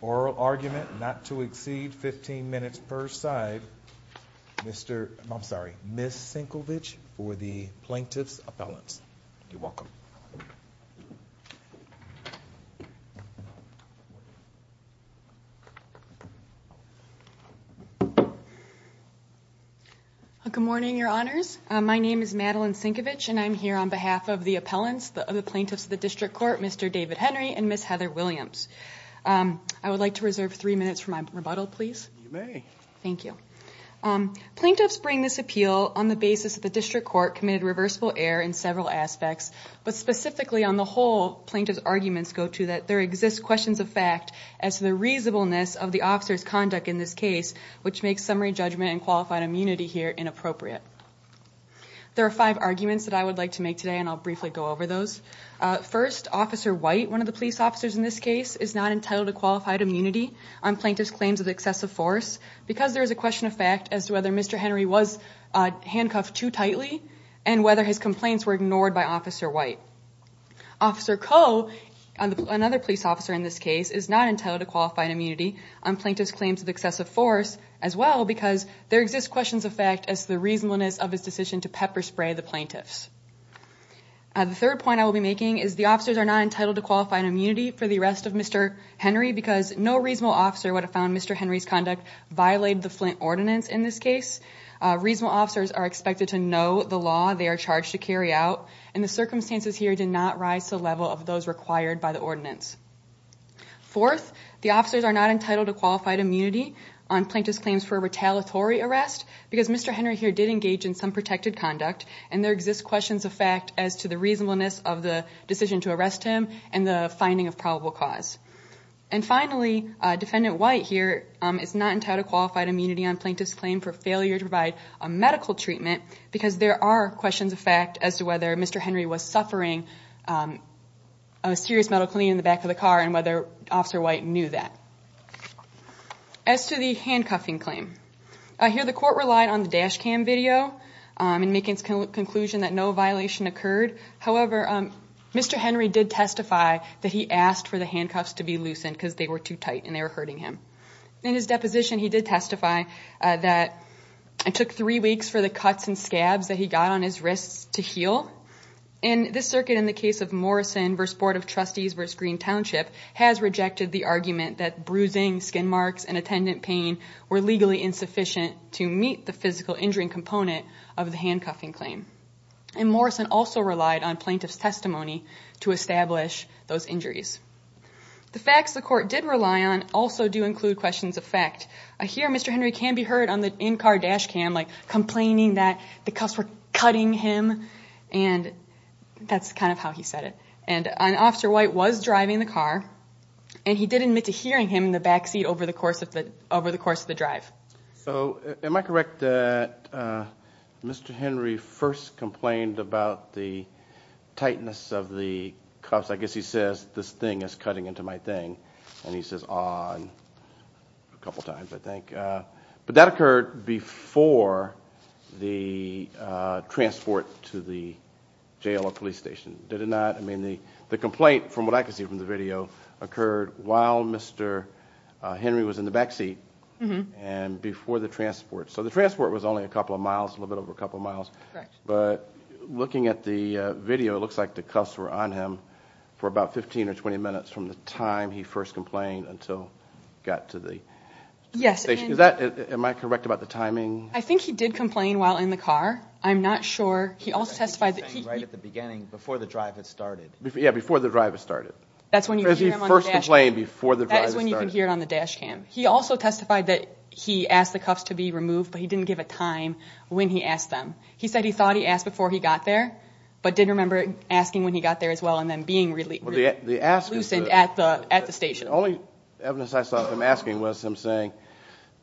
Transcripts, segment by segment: Oral argument not to exceed 15 minutes per side, Ms. Sinkovich for the Plaintiff's Appellant. Good morning, your honors. My name is Madeline Sinkovich, and I'm here on behalf of the appellants, the plaintiffs of the District Court, Mr. David Henry and Ms. Heather Williams. I would like to reserve three minutes for my rebuttal, please. Thank you. Plaintiffs bring this appeal on the basis that the District Court committed reversible error in several aspects, but specifically on the whole, plaintiff's arguments go to that there exist questions of fact as to the reasonableness of the officer's conduct in this case, which makes summary judgment and qualified immunity here inappropriate. There are five arguments that I would like to make today, and I'll briefly go over those. First, Officer White, one of the police officers in this case, is not entitled to qualified immunity on plaintiff's claims of excessive force because there is a question of fact as to whether Mr. Henry was handcuffed too tightly and whether his complaints were ignored by Officer White. Officer Coe, another police officer in this case, is not entitled to qualified immunity on plaintiff's claims of excessive force as well because there exist questions of fact as to the reasonableness of his decision to pepper spray the plaintiffs. The third point I will be making is the officers are not entitled to qualified immunity for the arrest of Mr. Henry because no reasonable officer would have found Mr. Henry's conduct violated the Flint Ordinance in this case. Reasonable officers are expected to know the law they are charged to carry out, and the circumstances here did not rise to the level of those required by the Ordinance. Fourth, the officers are not entitled to qualified immunity on plaintiff's claims for a retaliatory arrest because Mr. Henry here did engage in some protected conduct, and there exist questions of fact as to the reasonableness of the decision to arrest him and the finding of probable cause. And finally, Defendant White here is not entitled to qualified immunity on plaintiff's claims for failure to provide a medical treatment because there are questions of fact as to whether Mr. Henry was suffering a serious metal cleaning in the back of the car and whether Officer White knew that. As to the handcuffing claim, I hear the court relied on the dash cam video in making its conclusion that no violation occurred. However, Mr. Henry did testify that he asked for the handcuffs to be loosened because they were too tight and they were hurting him. In his deposition, he did testify that it took three weeks for the cuts and scabs that he got on his wrists to heal. And this circuit, in the case of Morrison v. Board of Trustees v. Green Township, has rejected the argument that bruising, skin marks, and attendant pain were legally insufficient to meet the physical injury component of the injuries. The facts the court did rely on also do include questions of fact. I hear Mr. Henry can be heard on the in-car dash cam like complaining that the cuffs were cutting him and that's kind of how he said it. And Officer White was driving the car and he did admit to hearing him in the back seat over the course of the drive. So am I correct that Mr. Henry first complained about the tightness of the cuffs? I guess he says this thing is cutting into my thing. And he says on a couple times, I think. But that occurred before the transport to the jail or police station, did it not? I mean, the complaint, from what I can see from the video, occurred while Mr. Henry was in the car and before the transport. So the transport was only a couple of miles, a little bit over a couple of miles. But looking at the video, it looks like the cuffs were on him for about 15 or 20 minutes from the time he first complained until he got to the station. Am I correct about the timing? I think he did complain while in the car. I'm not sure. He also testified that he... Right at the beginning, before the drive had started. Yeah, before the drive had started. That's when you can hear him on the dash cam. Because he first complained before the drive had started. That is when you can hear it on the dash cam. He also testified that he asked the cuffs to be removed, but he didn't give a time when he asked them. He said he thought he asked before he got there, but didn't remember asking when he got there as well and then being really loosened at the station. The only evidence I saw of him asking was him saying,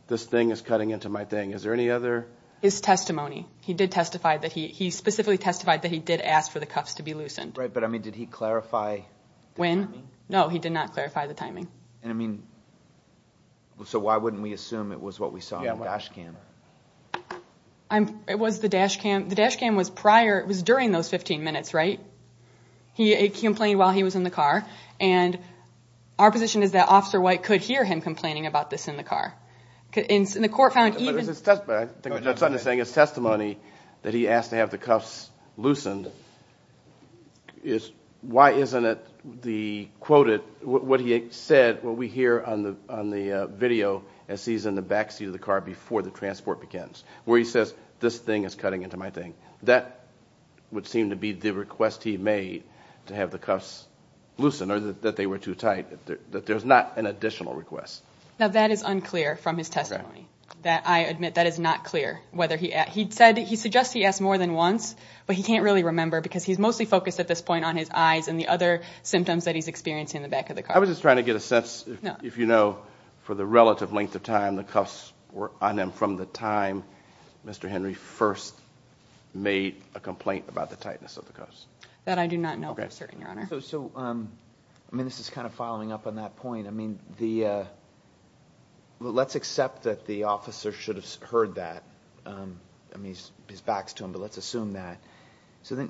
this thing is cutting into my thing. Is there any other? His testimony. He did testify that he... He specifically testified that he did ask for the cuffs to be loosened. Right, but I mean, did he clarify the timing? When? No, he did not clarify the timing. I assume it was what we saw on the dash cam. It was the dash cam. The dash cam was prior, it was during those 15 minutes, right? He complained while he was in the car, and our position is that Officer White could hear him complaining about this in the car. The court found even... But it's his testimony. I think what Judge Sutton is saying is testimony that he asked to have the cuffs loosened. Why isn't it the quoted, what he said, what he said in the video as he's in the backseat of the car before the transport begins, where he says, this thing is cutting into my thing. That would seem to be the request he made to have the cuffs loosened, or that they were too tight, that there's not an additional request. Now, that is unclear from his testimony. That, I admit, that is not clear, whether he... He suggested he asked more than once, but he can't really remember because he's mostly focused at this point on his eyes and the other symptoms that he's experiencing in the back of the car. I was just trying to get a sense, if you know, for the relative length of time the cuffs were on him from the time Mr. Henry first made a complaint about the tightness of the cuffs. That I do not know for certain, Your Honor. So, I mean, this is kind of following up on that point. I mean, the... Let's accept that the officer should have heard that. I mean, his back's to him, but let's assume that. So,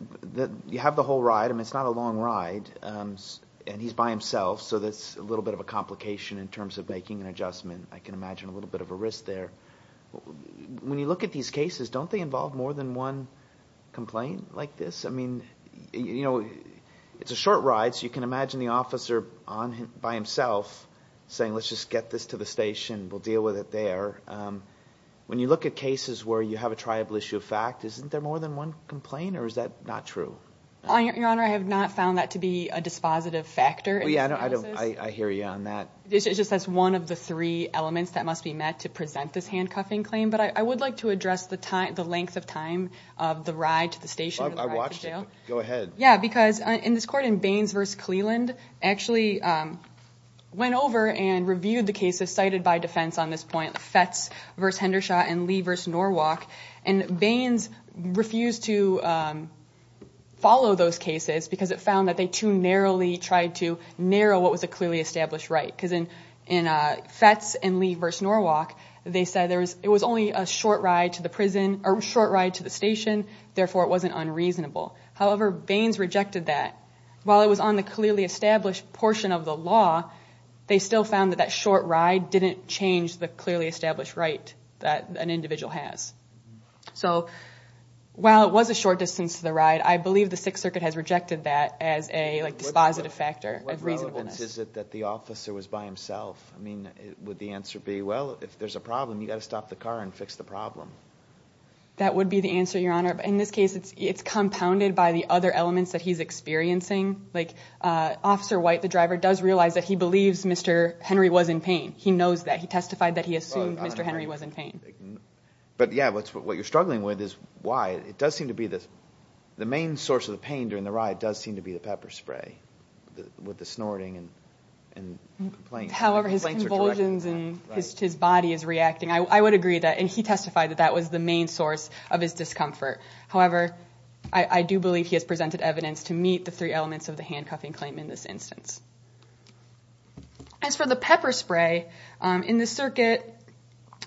you have the whole ride. I mean, it's not a long ride, and he's by himself, so that's a little bit of a complication in terms of making an adjustment. I can imagine a little bit of a risk there. When you look at these cases, don't they involve more than one complaint like this? I mean, you know, it's a short ride, so you can imagine the officer on him, by himself, saying, let's just get this to the station. We'll deal with it there. When you look at cases where you have a triable issue of fact, isn't there more than one complaint, or is that not true? Your Honor, I have not found that to be a dispositive factor in this analysis. Yeah, I hear you on that. It's just that's one of the three elements that must be met to present this handcuffing claim, but I would like to address the length of time of the ride to the station or the ride to jail. I watched it. Go ahead. Yeah, because in this court, in Baines v. Cleland, actually went over and reviewed the cases cited by defense on this point, Fetz v. Hendershot and Lee v. Norwalk, and Baines refused to follow those cases because it found that they too narrowly tried to narrow what was a clearly established right. Because in Fetz and Lee v. Norwalk, they said it was only a short ride to the station, therefore it wasn't unreasonable. However, Baines rejected that. While it was on the clearly established portion of the law, they still found that that short ride didn't change the clearly established right that an individual has. So while it was a short distance to the ride, I believe the Sixth Circuit has rejected that as a dispositive factor. What relevance is it that the officer was by himself? I mean, would the answer be, well, if there's a problem, you got to stop the car and fix the problem. That would be the answer, Your Honor. But in this case, it's compounded by the other elements that he's experiencing. Like Officer White, the driver, does realize that he believes Mr. Henry was in pain. He knows that. He testified that he assumed Mr. Henry was in pain. But yeah, what you're struggling with is why it does seem to be the main source of the pain during the ride does seem to be the pepper spray with the snorting and complaints. However, his convulsions and his body is reacting. I would agree that. And he testified that that was the main source of his discomfort. However, I do believe he has presented evidence to meet the three elements of the handcuffing claim in this instance. As for the pepper spray, in the circuit,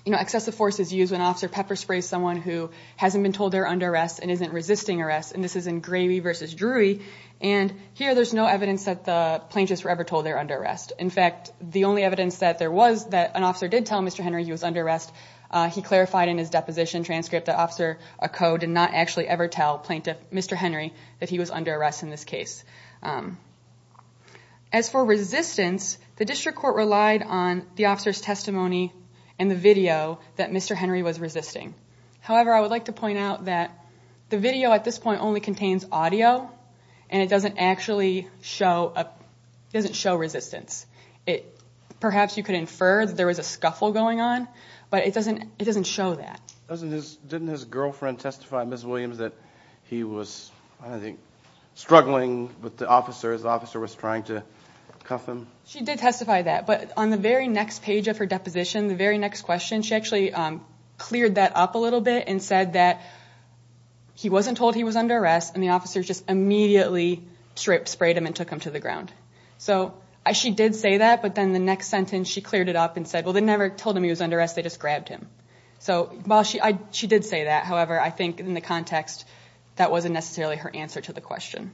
excessive force is used when Officer Pepper sprays someone who hasn't been told they're under arrest and isn't resisting arrest. And this is in Gravey v. Drury, and here there's no evidence that the plaintiffs were ever told they're under arrest. In fact, the only evidence that there was that an officer did tell Mr. Henry he was under arrest, he clarified in his deposition transcript that Officer Occo did not actually ever tell Plaintiff Mr. Henry that he was under arrest in this case. As for resistance, the district court relied on the officer's testimony and the video that Mr. Henry was resisting. However, I would like to point out that the video at this point only contains audio and it doesn't actually show a, it doesn't show resistance. It, perhaps you could infer that there was a scuffle going on, but it doesn't, it doesn't show that. Doesn't his, didn't his girlfriend testify, Ms. Williams, that he was, I think, struggling with the handcuffs. But the officer, the officer was trying to cuff him. She did testify that, but on the very next page of her deposition, the very next question, she actually cleared that up a little bit and said that he wasn't told he was under arrest and the officers just immediately sprayed him and took him to the ground. So I, she did say that, but then the next sentence she cleared it up and said, well, they never told him he was under arrest. They just grabbed him. So while she, I, she did say that. However, I think in the context that wasn't necessarily her answer to the question.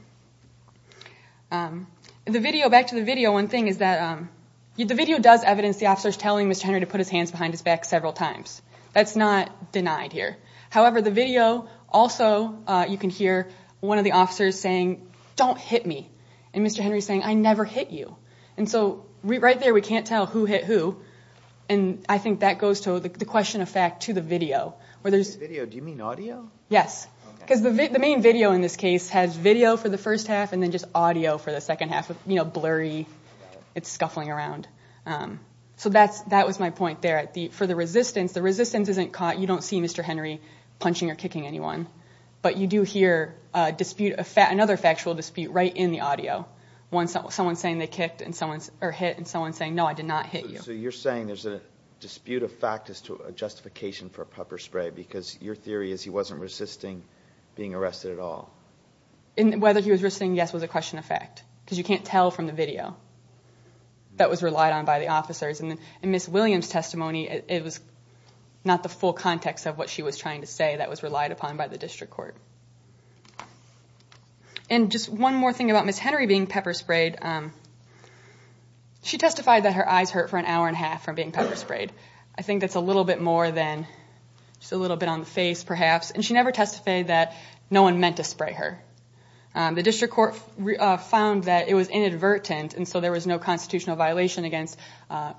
The video, back to the video, one thing is that, the video does evidence the officers telling Mr. Henry to put his hands behind his back several times. That's not denied here. However, the video also, you can hear one of the officers saying, don't hit me. And Mr. Henry is saying, I never hit you. And so we, right there, we can't tell who hit who. And I think that goes to the question of fact to the video where there's... Video, do you mean audio? Yes. Because the main video in this case has video for the first half and then just audio for the second half of, you know, blurry, it's scuffling around. So that's, that was my point there. At the, for the resistance, the resistance isn't caught. You don't see Mr. Henry punching or kicking anyone, but you do hear a dispute, another factual dispute right in the audio. Once someone's saying they kicked and someone's, or hit and someone's saying, no, I did not hit you. So you're saying there's a dispute of fact as to a justification for a pepper spray, because your theory is he wasn't resisting being arrested at all. And whether he was resisting, yes, was a question of fact, because you can't tell from the video that was relied on by the officers and Ms. Williams' testimony, it was not the full context of what she was trying to say that was relied upon by the district court. And just one more thing about Ms. Henry being pepper sprayed. She testified that her eyes hurt for an hour and a half from being pepper sprayed. I think that's a little bit more than just a little bit on the face perhaps. And she never testified that no one meant to spray her. The district court found that it was inadvertent. And so there was no constitutional violation against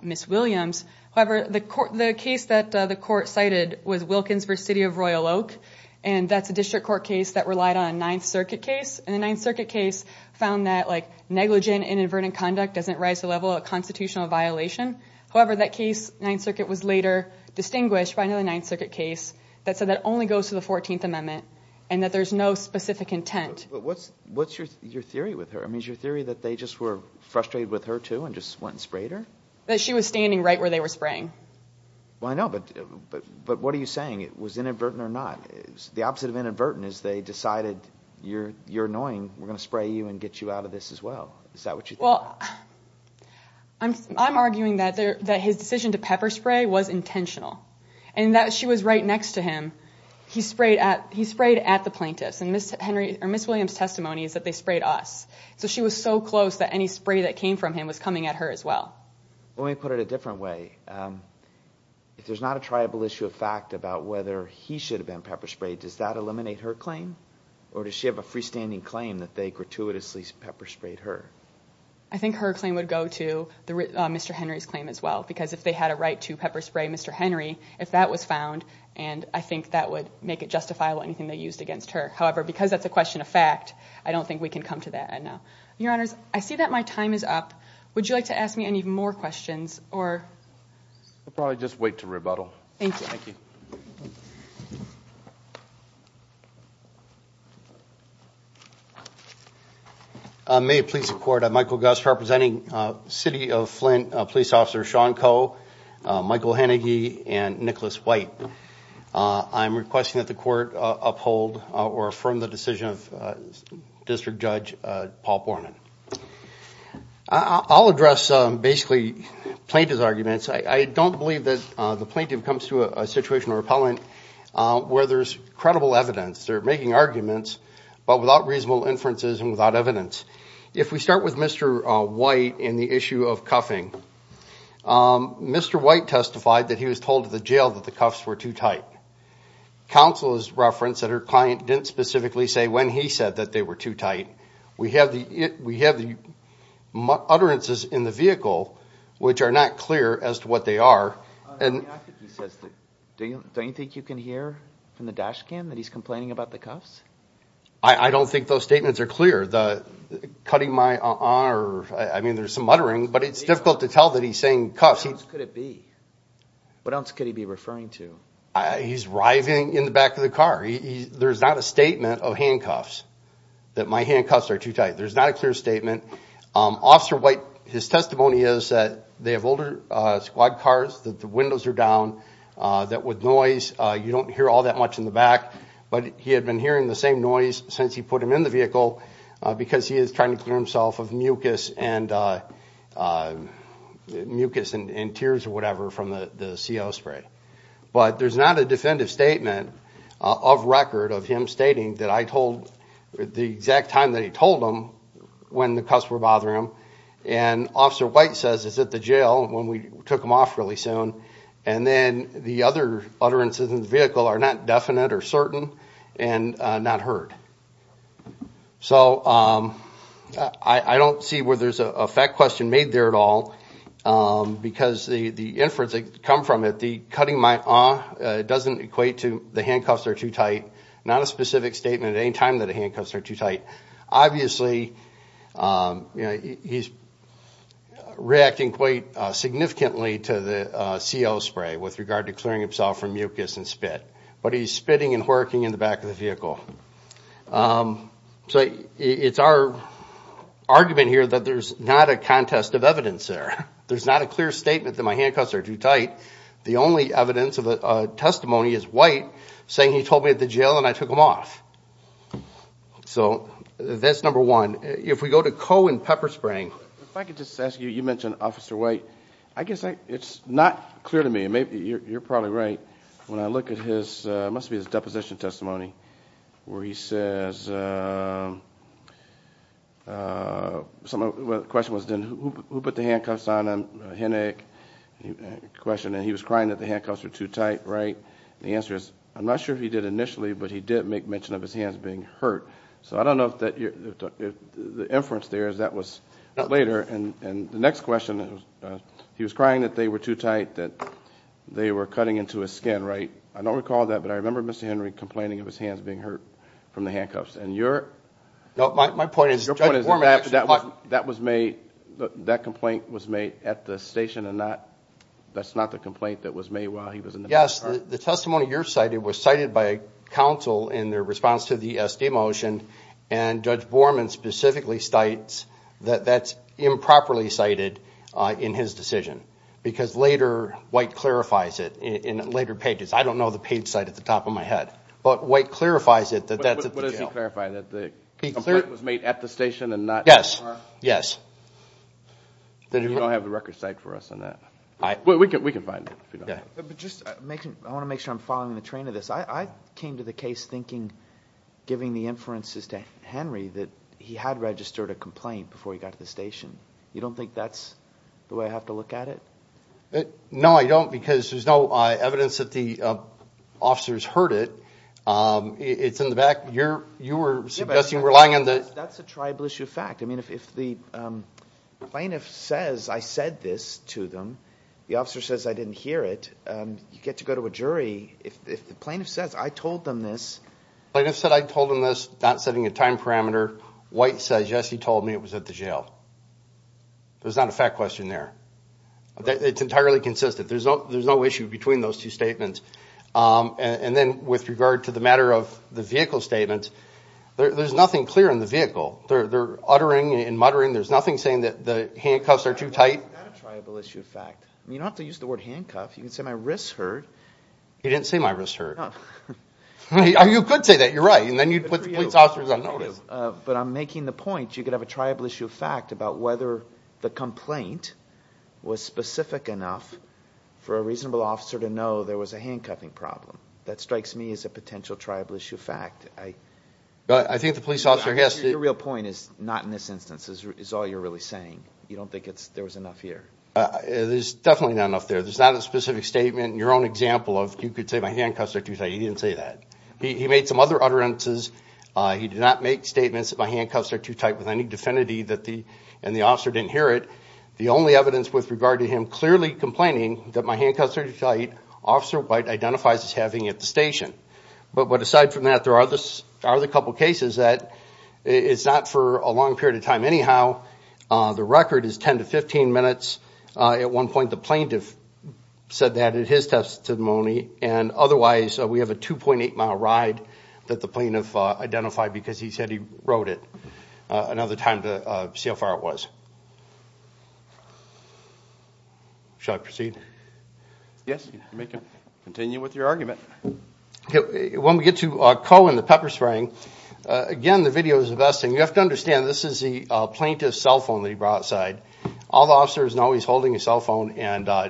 Ms. Williams. However, the case that the court cited was Wilkinsburg City of Royal Oak. And that's a district court case that relied on a Ninth Circuit case. And the Ninth Circuit case found that negligent inadvertent conduct doesn't rise to the level of a constitutional violation. However, that case, Ninth Circuit was later distinguished by another Ninth Circuit case, the 14th Amendment, and that there's no specific intent. But what's, what's your, your theory with her? I mean, is your theory that they just were frustrated with her too and just went and sprayed her? That she was standing right where they were spraying. Well, I know, but, but, but what are you saying? It was inadvertent or not. The opposite of inadvertent is they decided you're, you're annoying. We're going to spray you and get you out of this as well. Is that what you think? Well, I'm, I'm arguing that there, that his decision to pepper spray was intentional and that she was right next to him. He sprayed at, he sprayed at the plaintiffs and Ms. Henry or Ms. Williams' testimony is that they sprayed us. So she was so close that any spray that came from him was coming at her as well. Well, let me put it a different way. If there's not a triable issue of fact about whether he should have been pepper sprayed, does that eliminate her claim? Or does she have a freestanding claim that they gratuitously pepper sprayed her? I think her claim would go to the Mr. Henry's claim as well, because if they had a right to pepper spray Mr. That was found and I think that would make it justifiable anything they used against her. However, because that's a question of fact, I don't think we can come to that. I know. Your honors, I see that my time is up. Would you like to ask me any more questions? Or I'll probably just wait to rebuttal. Thank you. Thank you. May it please the court. I'm Michael Gus representing a city of Flint, a police officer, Sean Michael Hennigy and Nicholas White. I'm requesting that the court uphold or affirm the decision of district judge, Paul Borman. I'll address basically plaintiff's arguments. I don't believe that the plaintiff comes to a situation or appellant where there's credible evidence. They're making arguments, but without reasonable inferences and without evidence. If we start with Mr. White in the issue of cuffing. Mr. White testified that he was told at the jail that the cuffs were too tight. Counsel has referenced that her client didn't specifically say when he said that they were too tight. We have the, we have the utterances in the vehicle, which are not clear as to what they are. And he says that, do you, don't you think you can hear from the dash cam that he's complaining about the cuffs? I don't think those statements are clear. The cutting my honor, I mean, there's some muttering, but it's difficult to tell that he's saying cuffs could it be, what else could he be referring to? I he's writhing in the back of the car. He there's not a statement of handcuffs. That my handcuffs are too tight. There's not a clear statement. Um, officer white, his testimony is that they have older, uh, squad cars that the windows are down. Uh, that would noise. Uh, you don't hear all that much in the back, but he had been hearing the same noise since he put him in the vehicle, uh, because he is trying to clear himself of mucus and, uh, uh, mucus and tears or whatever from the CO spray, but there's not a definitive statement, uh, of record of him stating that I told the exact time that he told them when the cuffs were bothering him. And officer white says is at the jail when we took him off really soon. And then the other utterances in the vehicle are not definite or certain and not heard. So, um, I, I don't see where there's a fact question made there at all. Um, because the, the inference that come from it, the cutting my arm, uh, it doesn't equate to the handcuffs are too tight, not a specific statement. At any time that a handcuffs are too tight, obviously, um, you know, he's reacting quite significantly to the, uh, CO spray with regard to clearing himself from mucus and spit, but he's spitting and working in the back of the vehicle. Um, so it's our argument here that there's not a contest of evidence there. There's not a clear statement that my handcuffs are too tight. The only evidence of a testimony is white saying he told me at the jail and I took them off. So that's number one. If we go to CO and pepper spraying, if I could just ask you, you mentioned officer white, I guess it's not clear to me and maybe you're, you're probably right when I look at his, uh, it must be his deposition testimony where he says, uh, uh, some of the question was then who, who put the handcuffs on him? Henick question. And he was crying that the handcuffs were too tight, right? The answer is I'm not sure if he did initially, but he did make mention of his hands being hurt. So I don't know if that, if the inference there is that was later. And, and the next question, he was crying that they were too tight, that they were cutting into his skin, right? I don't recall that, but I remember mr. Henry complaining of his hands being hurt from the handcuffs. And you're my point is that was made, that complaint was made at the station and not, that's not the complaint that was made while he was in the testimony. You're cited was cited by council in their response to the SD motion. And judge Borman specifically states that that's improperly cited, uh, in his decision because later white clarifies it in later pages. I don't know the page site at the top of my head, but white clarifies it. That that's it. What does he clarify that the complaint was made at the station and not? Yes. Yes. Then you don't have the record site for us on that. I, we can, we can find it. But just making, I want to make sure I'm following the train of this. I came to the case thinking, giving the inferences to Henry that he had registered a complaint before he got to the station. You don't think that's the way I have to look at it? No, I don't. Because there's no, uh, evidence that the, uh, officers heard it. Um, it's in the back you're, you were suggesting relying on that. That's a tribal issue. Fact. I mean, if, if the, um, plaintiff says, I said this to them, the officer says, I didn't hear it. Um, you get to go to a jury. If the plaintiff says, I told them this. Plaintiff said, I told him this not setting a time parameter. White says, yes, he told me it was at the jail. There's not a fact question there. That it's entirely consistent. There's no, there's no issue between those two statements. Um, and then with regard to the matter of the vehicle statement, there, there's nothing clear in the vehicle. They're, they're uttering and muttering. There's nothing saying that the handcuffs are too tight. Tribal issue. Fact. I mean, you don't have to use the word handcuff. You can say my wrists hurt. He didn't say my wrist hurt. Oh, you could say that you're right. And then you'd put the police officers on notice. But I'm making the point. You could have a tribal issue fact about whether the complaint was specific enough for a reasonable officer to know there was a handcuffing problem. That strikes me as a potential tribal issue. Fact. I, I think the police officer has the real point is not in this instance is all you're really saying. You don't think it's, there was enough here. Uh, there's definitely not enough there. There's not a specific statement in your own example of, you could say my handcuffs are too tight. He didn't say that. He made some other utterances. Uh, he did not make statements that my handcuffs are too tight with any definity that the, and the officer didn't hear it. The only evidence with regard to him clearly complaining that my handcuffs are too tight officer white identifies as having at the station. But, but aside from that, there are this are the couple of cases that it's not for a long period of time. Anyhow, uh, the record is 10 to 15 minutes. Uh, at one point the plaintiff said that at his testimony and otherwise, we have a 2.8 mile ride that the plaintiff identified because he said he wrote it. Uh, another time to see how far it was. Should I proceed? Yes, you may continue with your argument. When we get to a call in the pepper spring, uh, again, the video is the best thing you have to understand. This is the plaintiff's cell phone that he brought outside. All the officers know he's holding a cell phone and, uh,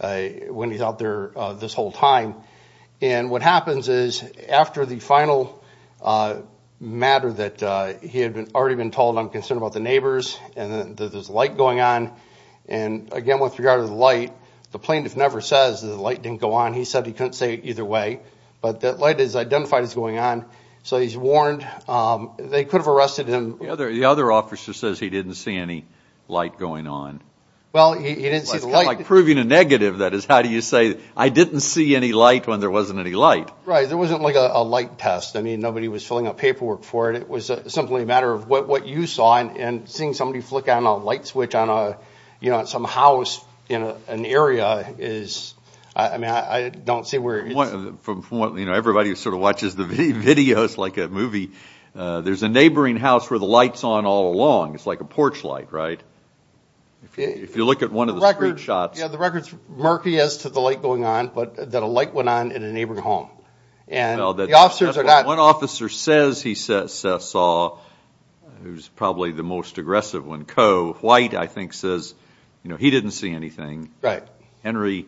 uh, when he's out there, uh, this whole time and what happens is after the final, uh, matter that, uh, he had been already been told, I'm concerned about the neighbors and then there's light going on. And again, with regard to the light, the plaintiff never says the light didn't go on. He said he couldn't say either way, but that light is identified as going on. So he's warned. Um, they could have arrested him. The other, the other officer says he didn't see any light going on. Well, he didn't see the light proving a negative. That is how do you say, I didn't see any light when there wasn't any light, right? There wasn't like a light test. I mean, nobody was filling out paperwork for it. It was simply a matter of what you saw and seeing somebody flick on a light switch on a, you know, some house in an area is, I mean, I don't see where from what, you know, everybody who sort of watches the videos, like a movie, uh, there's a neighboring house where the lights on all along, it's like a porch light, right? If you look at one of the street shots, yeah, the record's murky as to the light going on, but that a light went on in a neighboring home and the officers are not, one officer says he says, uh, saw who's probably the most aggressive one. Co white, I think says, you know, he didn't see anything. Henry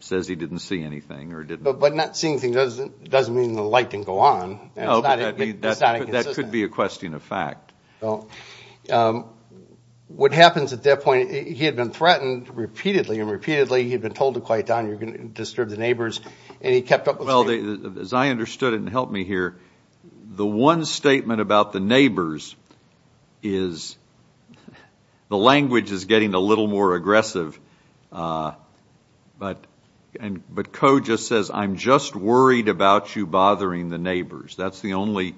says he didn't see anything or didn't, but not seeing things. It doesn't, it doesn't mean the light didn't go on. And that could be a question of fact. Well, um, what happens at that point, he had been threatened repeatedly. Repeatedly. He'd been told to quiet down. You're going to disturb the neighbors. And he kept up with, well, as I understood it and help me here, the one statement about the neighbors is the language is getting a little more aggressive, uh, but, and, but co just says, I'm just worried about you bothering the neighbors. That's the only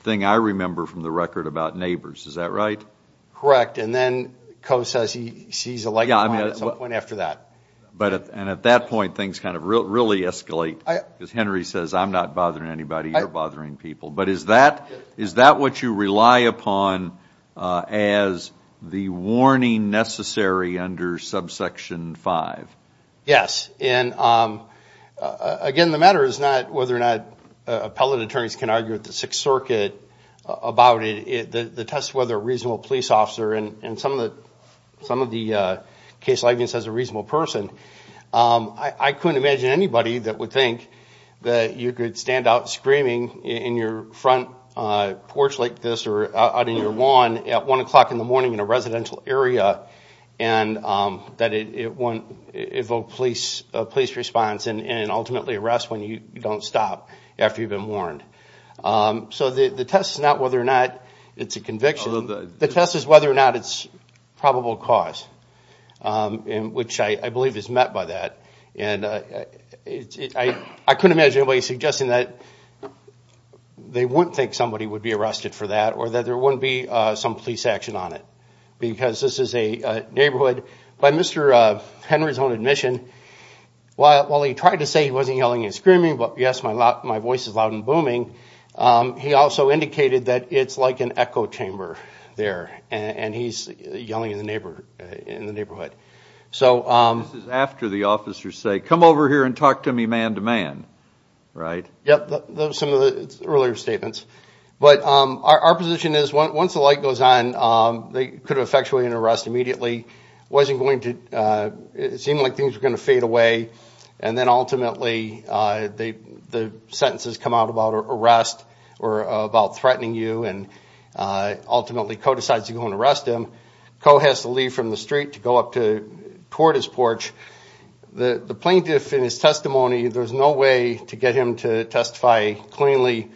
thing I remember from the record about neighbors. Is that right? Correct. And then co says he sees a light at some point after that. But, and at that point, things kind of really escalate because Henry says, I'm not bothering anybody. You're bothering people. But is that, is that what you rely upon, uh, as the warning necessary under subsection five? Yes. And, um, uh, again, the matter is not whether or not, uh, appellate attorneys can argue at the sixth circuit about it, the test, whether a reasonable police officer and some of the, some of the, uh, case lightning says a reasonable person. Um, I couldn't imagine anybody that would think that you could stand out screaming in your front porch like this, or out in your lawn at one o'clock in the morning in a residential area. And, um, that it, it won't, it will police a police response and ultimately arrest when you don't stop after you've been warned. Um, so the, the test is not whether or not it's a conviction, the test is whether or not it's probable cause. Um, and which I believe is met by that. And, uh, I couldn't imagine anybody suggesting that they wouldn't think somebody would be arrested for that or that there wouldn't be, uh, some police action on it because this is a neighborhood by Mr. Uh, Henry's own admission. While, while he tried to say he wasn't yelling and screaming, but yes, my voice is loud and booming. Um, he also indicated that it's like an echo chamber there and he's yelling in the neighbor, in the neighborhood. So, um, This is after the officers say, come over here and talk to me man to man. Right. Yep. Those are some of the earlier statements. But, um, our, our position is once the light goes on, um, they could have effectuated an arrest immediately. Wasn't going to, uh, it seemed like things were going to fade away. And then ultimately, uh, they, the sentences come out about arrest or about threatening you. And, uh, ultimately Coe decides to go and arrest him. Coe has to leave from the street to go up to toward his porch. The plaintiff in his testimony, there's no way to get him to testify cleanly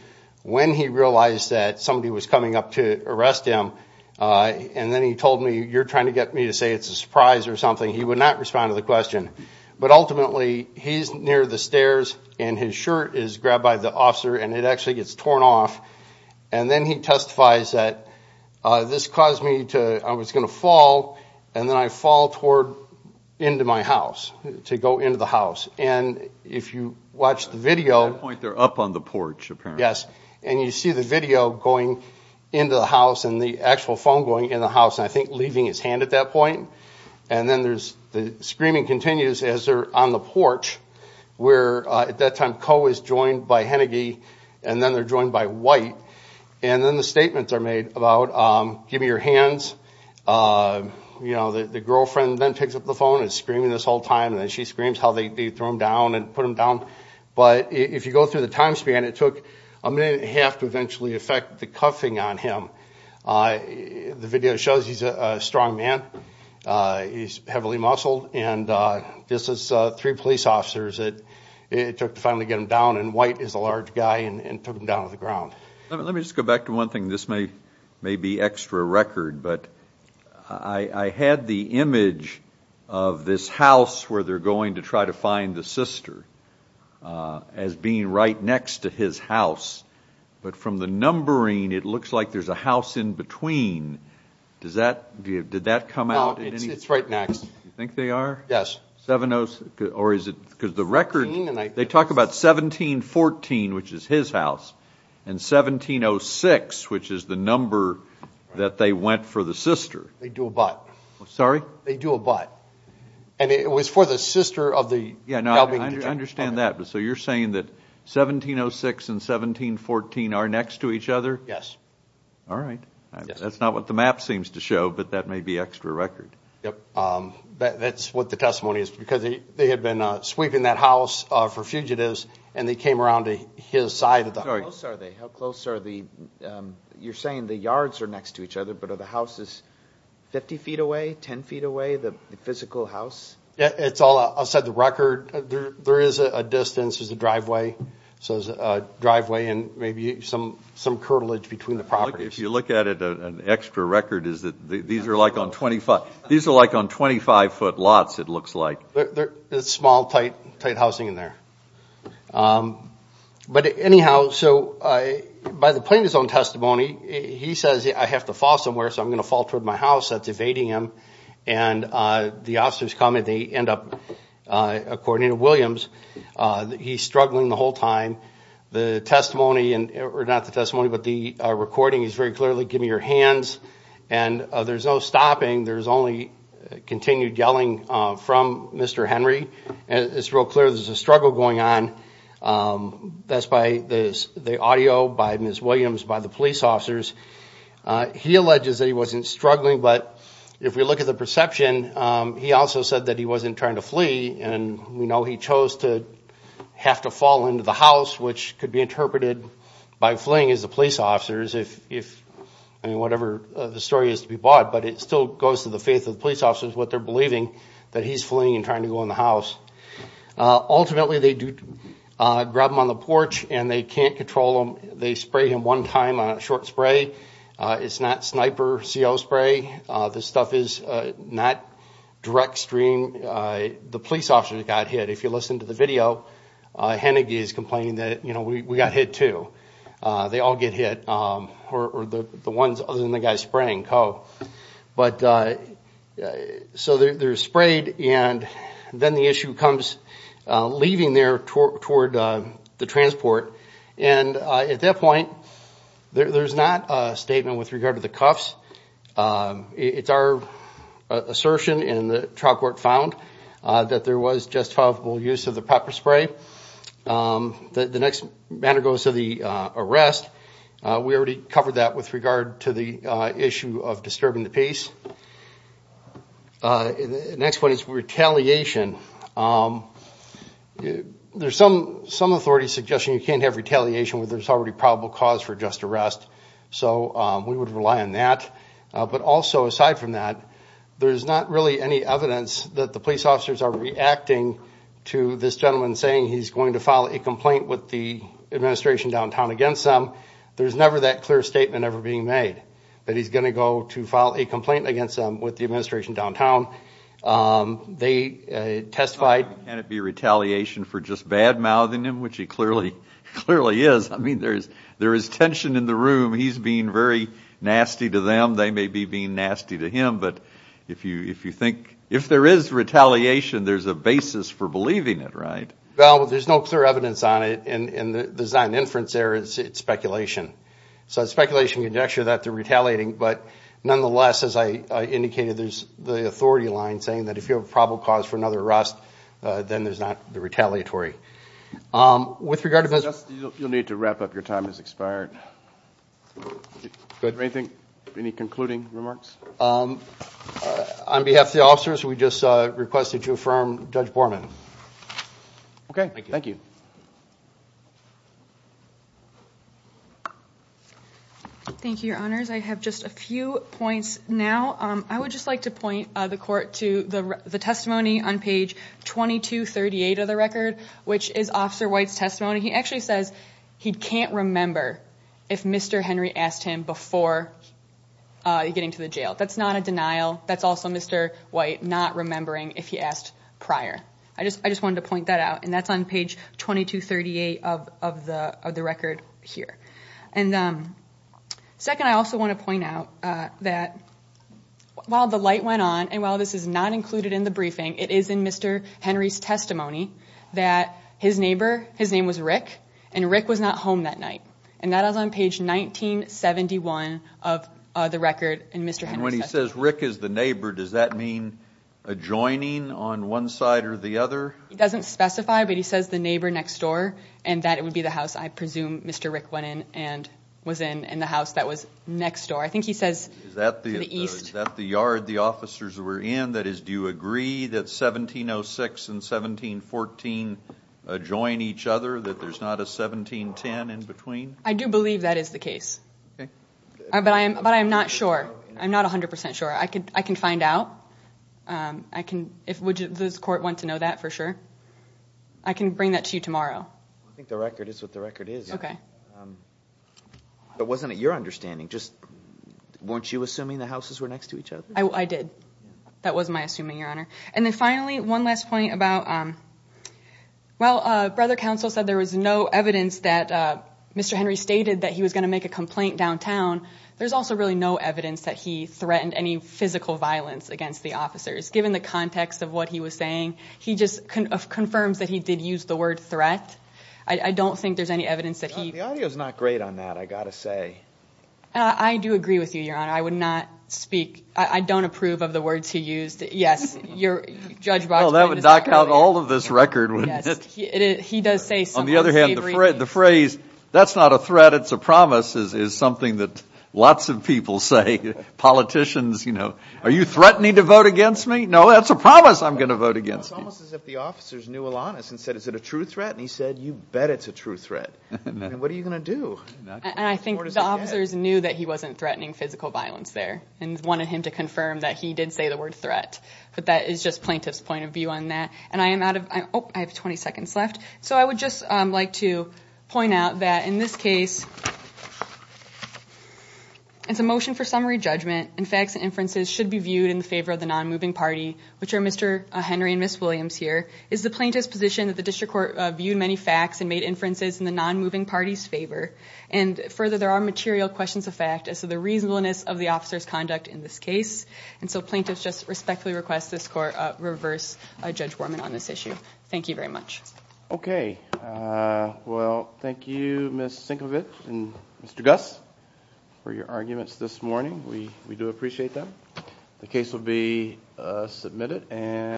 when he realized that somebody was coming up to arrest him. Uh, and then he told me you're trying to get me to say it's a surprise or something. He would not respond to the question. But ultimately he's near the stairs and his shirt is grabbed by the officer and it actually gets torn off. And then he testifies that, uh, this caused me to, I was going to fall. And then I fall toward into my house to go into the house. And if you watch the video, At that point they're up on the porch apparently. Yes. And you see the video going into the house and the actual phone going in the house. And I think leaving his hand at that point. And then there's the screaming continues as they're on the porch where, uh, at that time, Coe is joined by Hennigy and then they're joined by White. And then the statements are made about, um, give me your hands. Uh, you know, the, the girlfriend then picks up the phone and screaming this whole time and then she screams how they throw him down and put him down. But if you go through the time span, it took a minute and a half to eventually affect the cuffing on him. Uh, the video shows he's a strong man. Uh, he's heavily muscled. And, uh, this is, uh, three police officers that it took to finally get him down and White is a large guy and took him down to the ground. Let me just go back to one thing. This may, may be extra record, but I had the image of this house where they're going to try to find the sister, uh, as being right next to his house. But from the numbering, it looks like there's a house in between. Does that, do you, did that come out? You think they are? Yes. Seven Oh, or is it because the record, they talk about 1714, which is his house and 1706, which is the number that they went for the sister. They do a butt. Sorry? They do a butt. And it was for the sister of the. Yeah, no, I understand that. So you're saying that 1706 and 1714 are next to each other. Yes. All right. That's not what the map seems to show, but that may be extra record. Yep. Um, that's what the testimony is because they had been sweeping that house for fugitives and they came around to his side of the house. Are they, how close are the, um, you're saying the yards are next to each other, but are the houses 50 feet away, 10 feet away, the physical house. Yeah, it's all outside the record. There, there is a distance as a driveway. So there's a driveway and maybe some, some curtilage between the properties. If you look at it, an extra record is that these are like on 25, these are like on 25 foot lots, it looks like. It's small, tight, tight housing in there. Um, but anyhow, so I, by the plaintiff's own testimony, he says, I have to fall somewhere, so I'm going to fall toward my house that's evading him. And, uh, the officers come and they end up, uh, according to Williams, uh, he's struggling the whole time. The testimony and, or not the testimony, but the recording is very clearly, give me your hands. And, uh, there's no stopping. There's only continued yelling from Mr. Henry and it's real clear. There's a struggle going on. Um, that's by this, the audio by Ms. Williams, by the police officers. Uh, he alleges that he wasn't struggling, but if we look at the perception, um, he also said that he wasn't trying to flee and we know he chose to have to fall into the house, which could be interpreted by fleeing as the police officers, if, if, I mean, whatever the story is to be bought, but it still goes to the faith of the police officers, what they're believing that he's fleeing and trying to go in the house. Uh, ultimately they do, uh, grab him on the porch and they can't control him. They spray him one time on a short spray. Uh, it's not sniper CO spray. Uh, this stuff is, uh, not direct stream. Uh, the police officers got hit. If you listen to the video, uh, Hennigy is complaining that, you know, we, we got hit too. Uh, they all get hit. Um, or, or the, the ones other than the guys spraying co, but, uh, so they're, they're sprayed and then the issue comes, uh, leaving their tour toward, uh, the transport. And, uh, at that point there, there's not a statement with regard to the cuffs. Um, it's our assertion in the trial court found, uh, that there was justifiable use of the pepper spray. Um, the next matter goes to the, uh, arrest. Uh, we already covered that with regard to the, uh, issue of disturbing the peace. Uh, next one is retaliation. Um, there's some, some authority suggestion. You can't have retaliation where there's already probable cause for just arrest. So, um, we would rely on that. Uh, but also aside from that, there's not really any evidence that the police officers are reacting to this gentleman saying he's going to file a complaint with the administration downtown against them, there's never that clear statement ever being made that he's going to go to file a complaint against them with the administration downtown. Um, they, uh, testified. Can it be retaliation for just bad mouthing him, which he clearly, clearly is. I mean, there's, there is tension in the room. He's being very nasty to them. They may be being nasty to him, but if you, if you think, if there is retaliation, there's a basis for believing it, right? Well, there's no clear evidence on it. And the design inference there is it's speculation. So it's speculation conjecture that they're retaliating, but nonetheless, as I indicated, there's the authority line saying that if you have a probable cause for another arrest, uh, then there's not the retaliatory. Um, with regard to this, you'll need to wrap up. Your time has expired. Good. Anything, any concluding remarks? Um, on behalf of the officers, we just, uh, requested to affirm judge Borman. Okay. Thank you. Thank you, your honors. I have just a few points now. Um, I would just like to point, uh, the court to the, the testimony on page 2238 of the record, which is officer White's testimony. He actually says he can't remember if Mr. Henry asked him before, uh, getting to the jail. That's not a denial. That's also Mr. White not remembering if he asked prior. I just, I just wanted to point that out. And that's on page 2238 of, of the, of the record here. And, um, second, I also want to point out, uh, that while the light went on and while this is not included in the briefing, it is in Mr. Henry's testimony that his neighbor, his name was Rick and Rick was not home that night and that is on page 1971 of the record and Mr. Henry says, Rick is the neighbor. Does that mean adjoining on one side or the other? It doesn't specify, but he says the neighbor next door and that it would be the house I presume Mr. Rick went in and was in, in the house that was next door. I think he says the east. Is that the yard the officers were in? That is, do you agree that 1706 and 1714, uh, join each other, that there's not a 1710 in between? I do believe that is the case, but I am, but I am not sure. I'm not a hundred percent sure. I could, I can find out. Um, I can, if, would the court want to know that for sure? I can bring that to you tomorrow. I think the record is what the record is. Okay. Um, but wasn't it your understanding? Just weren't you assuming the houses were next to each other? I did. That was my assuming your honor. And then finally, one last point about, um, well, uh, brother counsel said there was no evidence that, uh, Mr. Henry stated that he was going to make a complaint downtown. There's also really no evidence that he threatened any physical violence against the officers. Given the context of what he was saying, he just confirms that he did use the word threat. I don't think there's any evidence that he... The audio is not great on that. I got to say. Uh, I do agree with you, your honor. I would not speak. I don't approve of the words he used. Yes. Your judge... Well, that would knock out all of this record. He does say some... On the other hand, the phrase, that's not a threat. It's a promise is, is something that lots of people say, politicians, you know, are you threatening to vote against me? No, that's a promise. I'm going to vote against you. It's almost as if the officers knew Alanis and said, is it a true threat? And he said, you bet it's a true threat. What are you going to do? And I think the officers knew that he wasn't threatening physical violence there and wanted him to confirm that he did say the word threat, but that is just plaintiff's point of view on that. And I am out of, I have 20 seconds left. So I would just like to point out that in this case, it's a motion for summary judgment and facts and inferences should be viewed in the favor of the non-moving party, which are Mr. Henry and Ms. Williams here, is the plaintiff's position that the district court viewed many facts and made inferences in the non-moving party's favor. And further, there are material questions of fact as to the reasonableness of the officer's conduct in this case. And so plaintiff's just respectfully request this court reverse Judge Worman on this issue. Thank you very much. Okay. Well, thank you, Ms. Sinkovich and Mr. Gus for your arguments this morning. We, we do appreciate them. The case will be submitted and.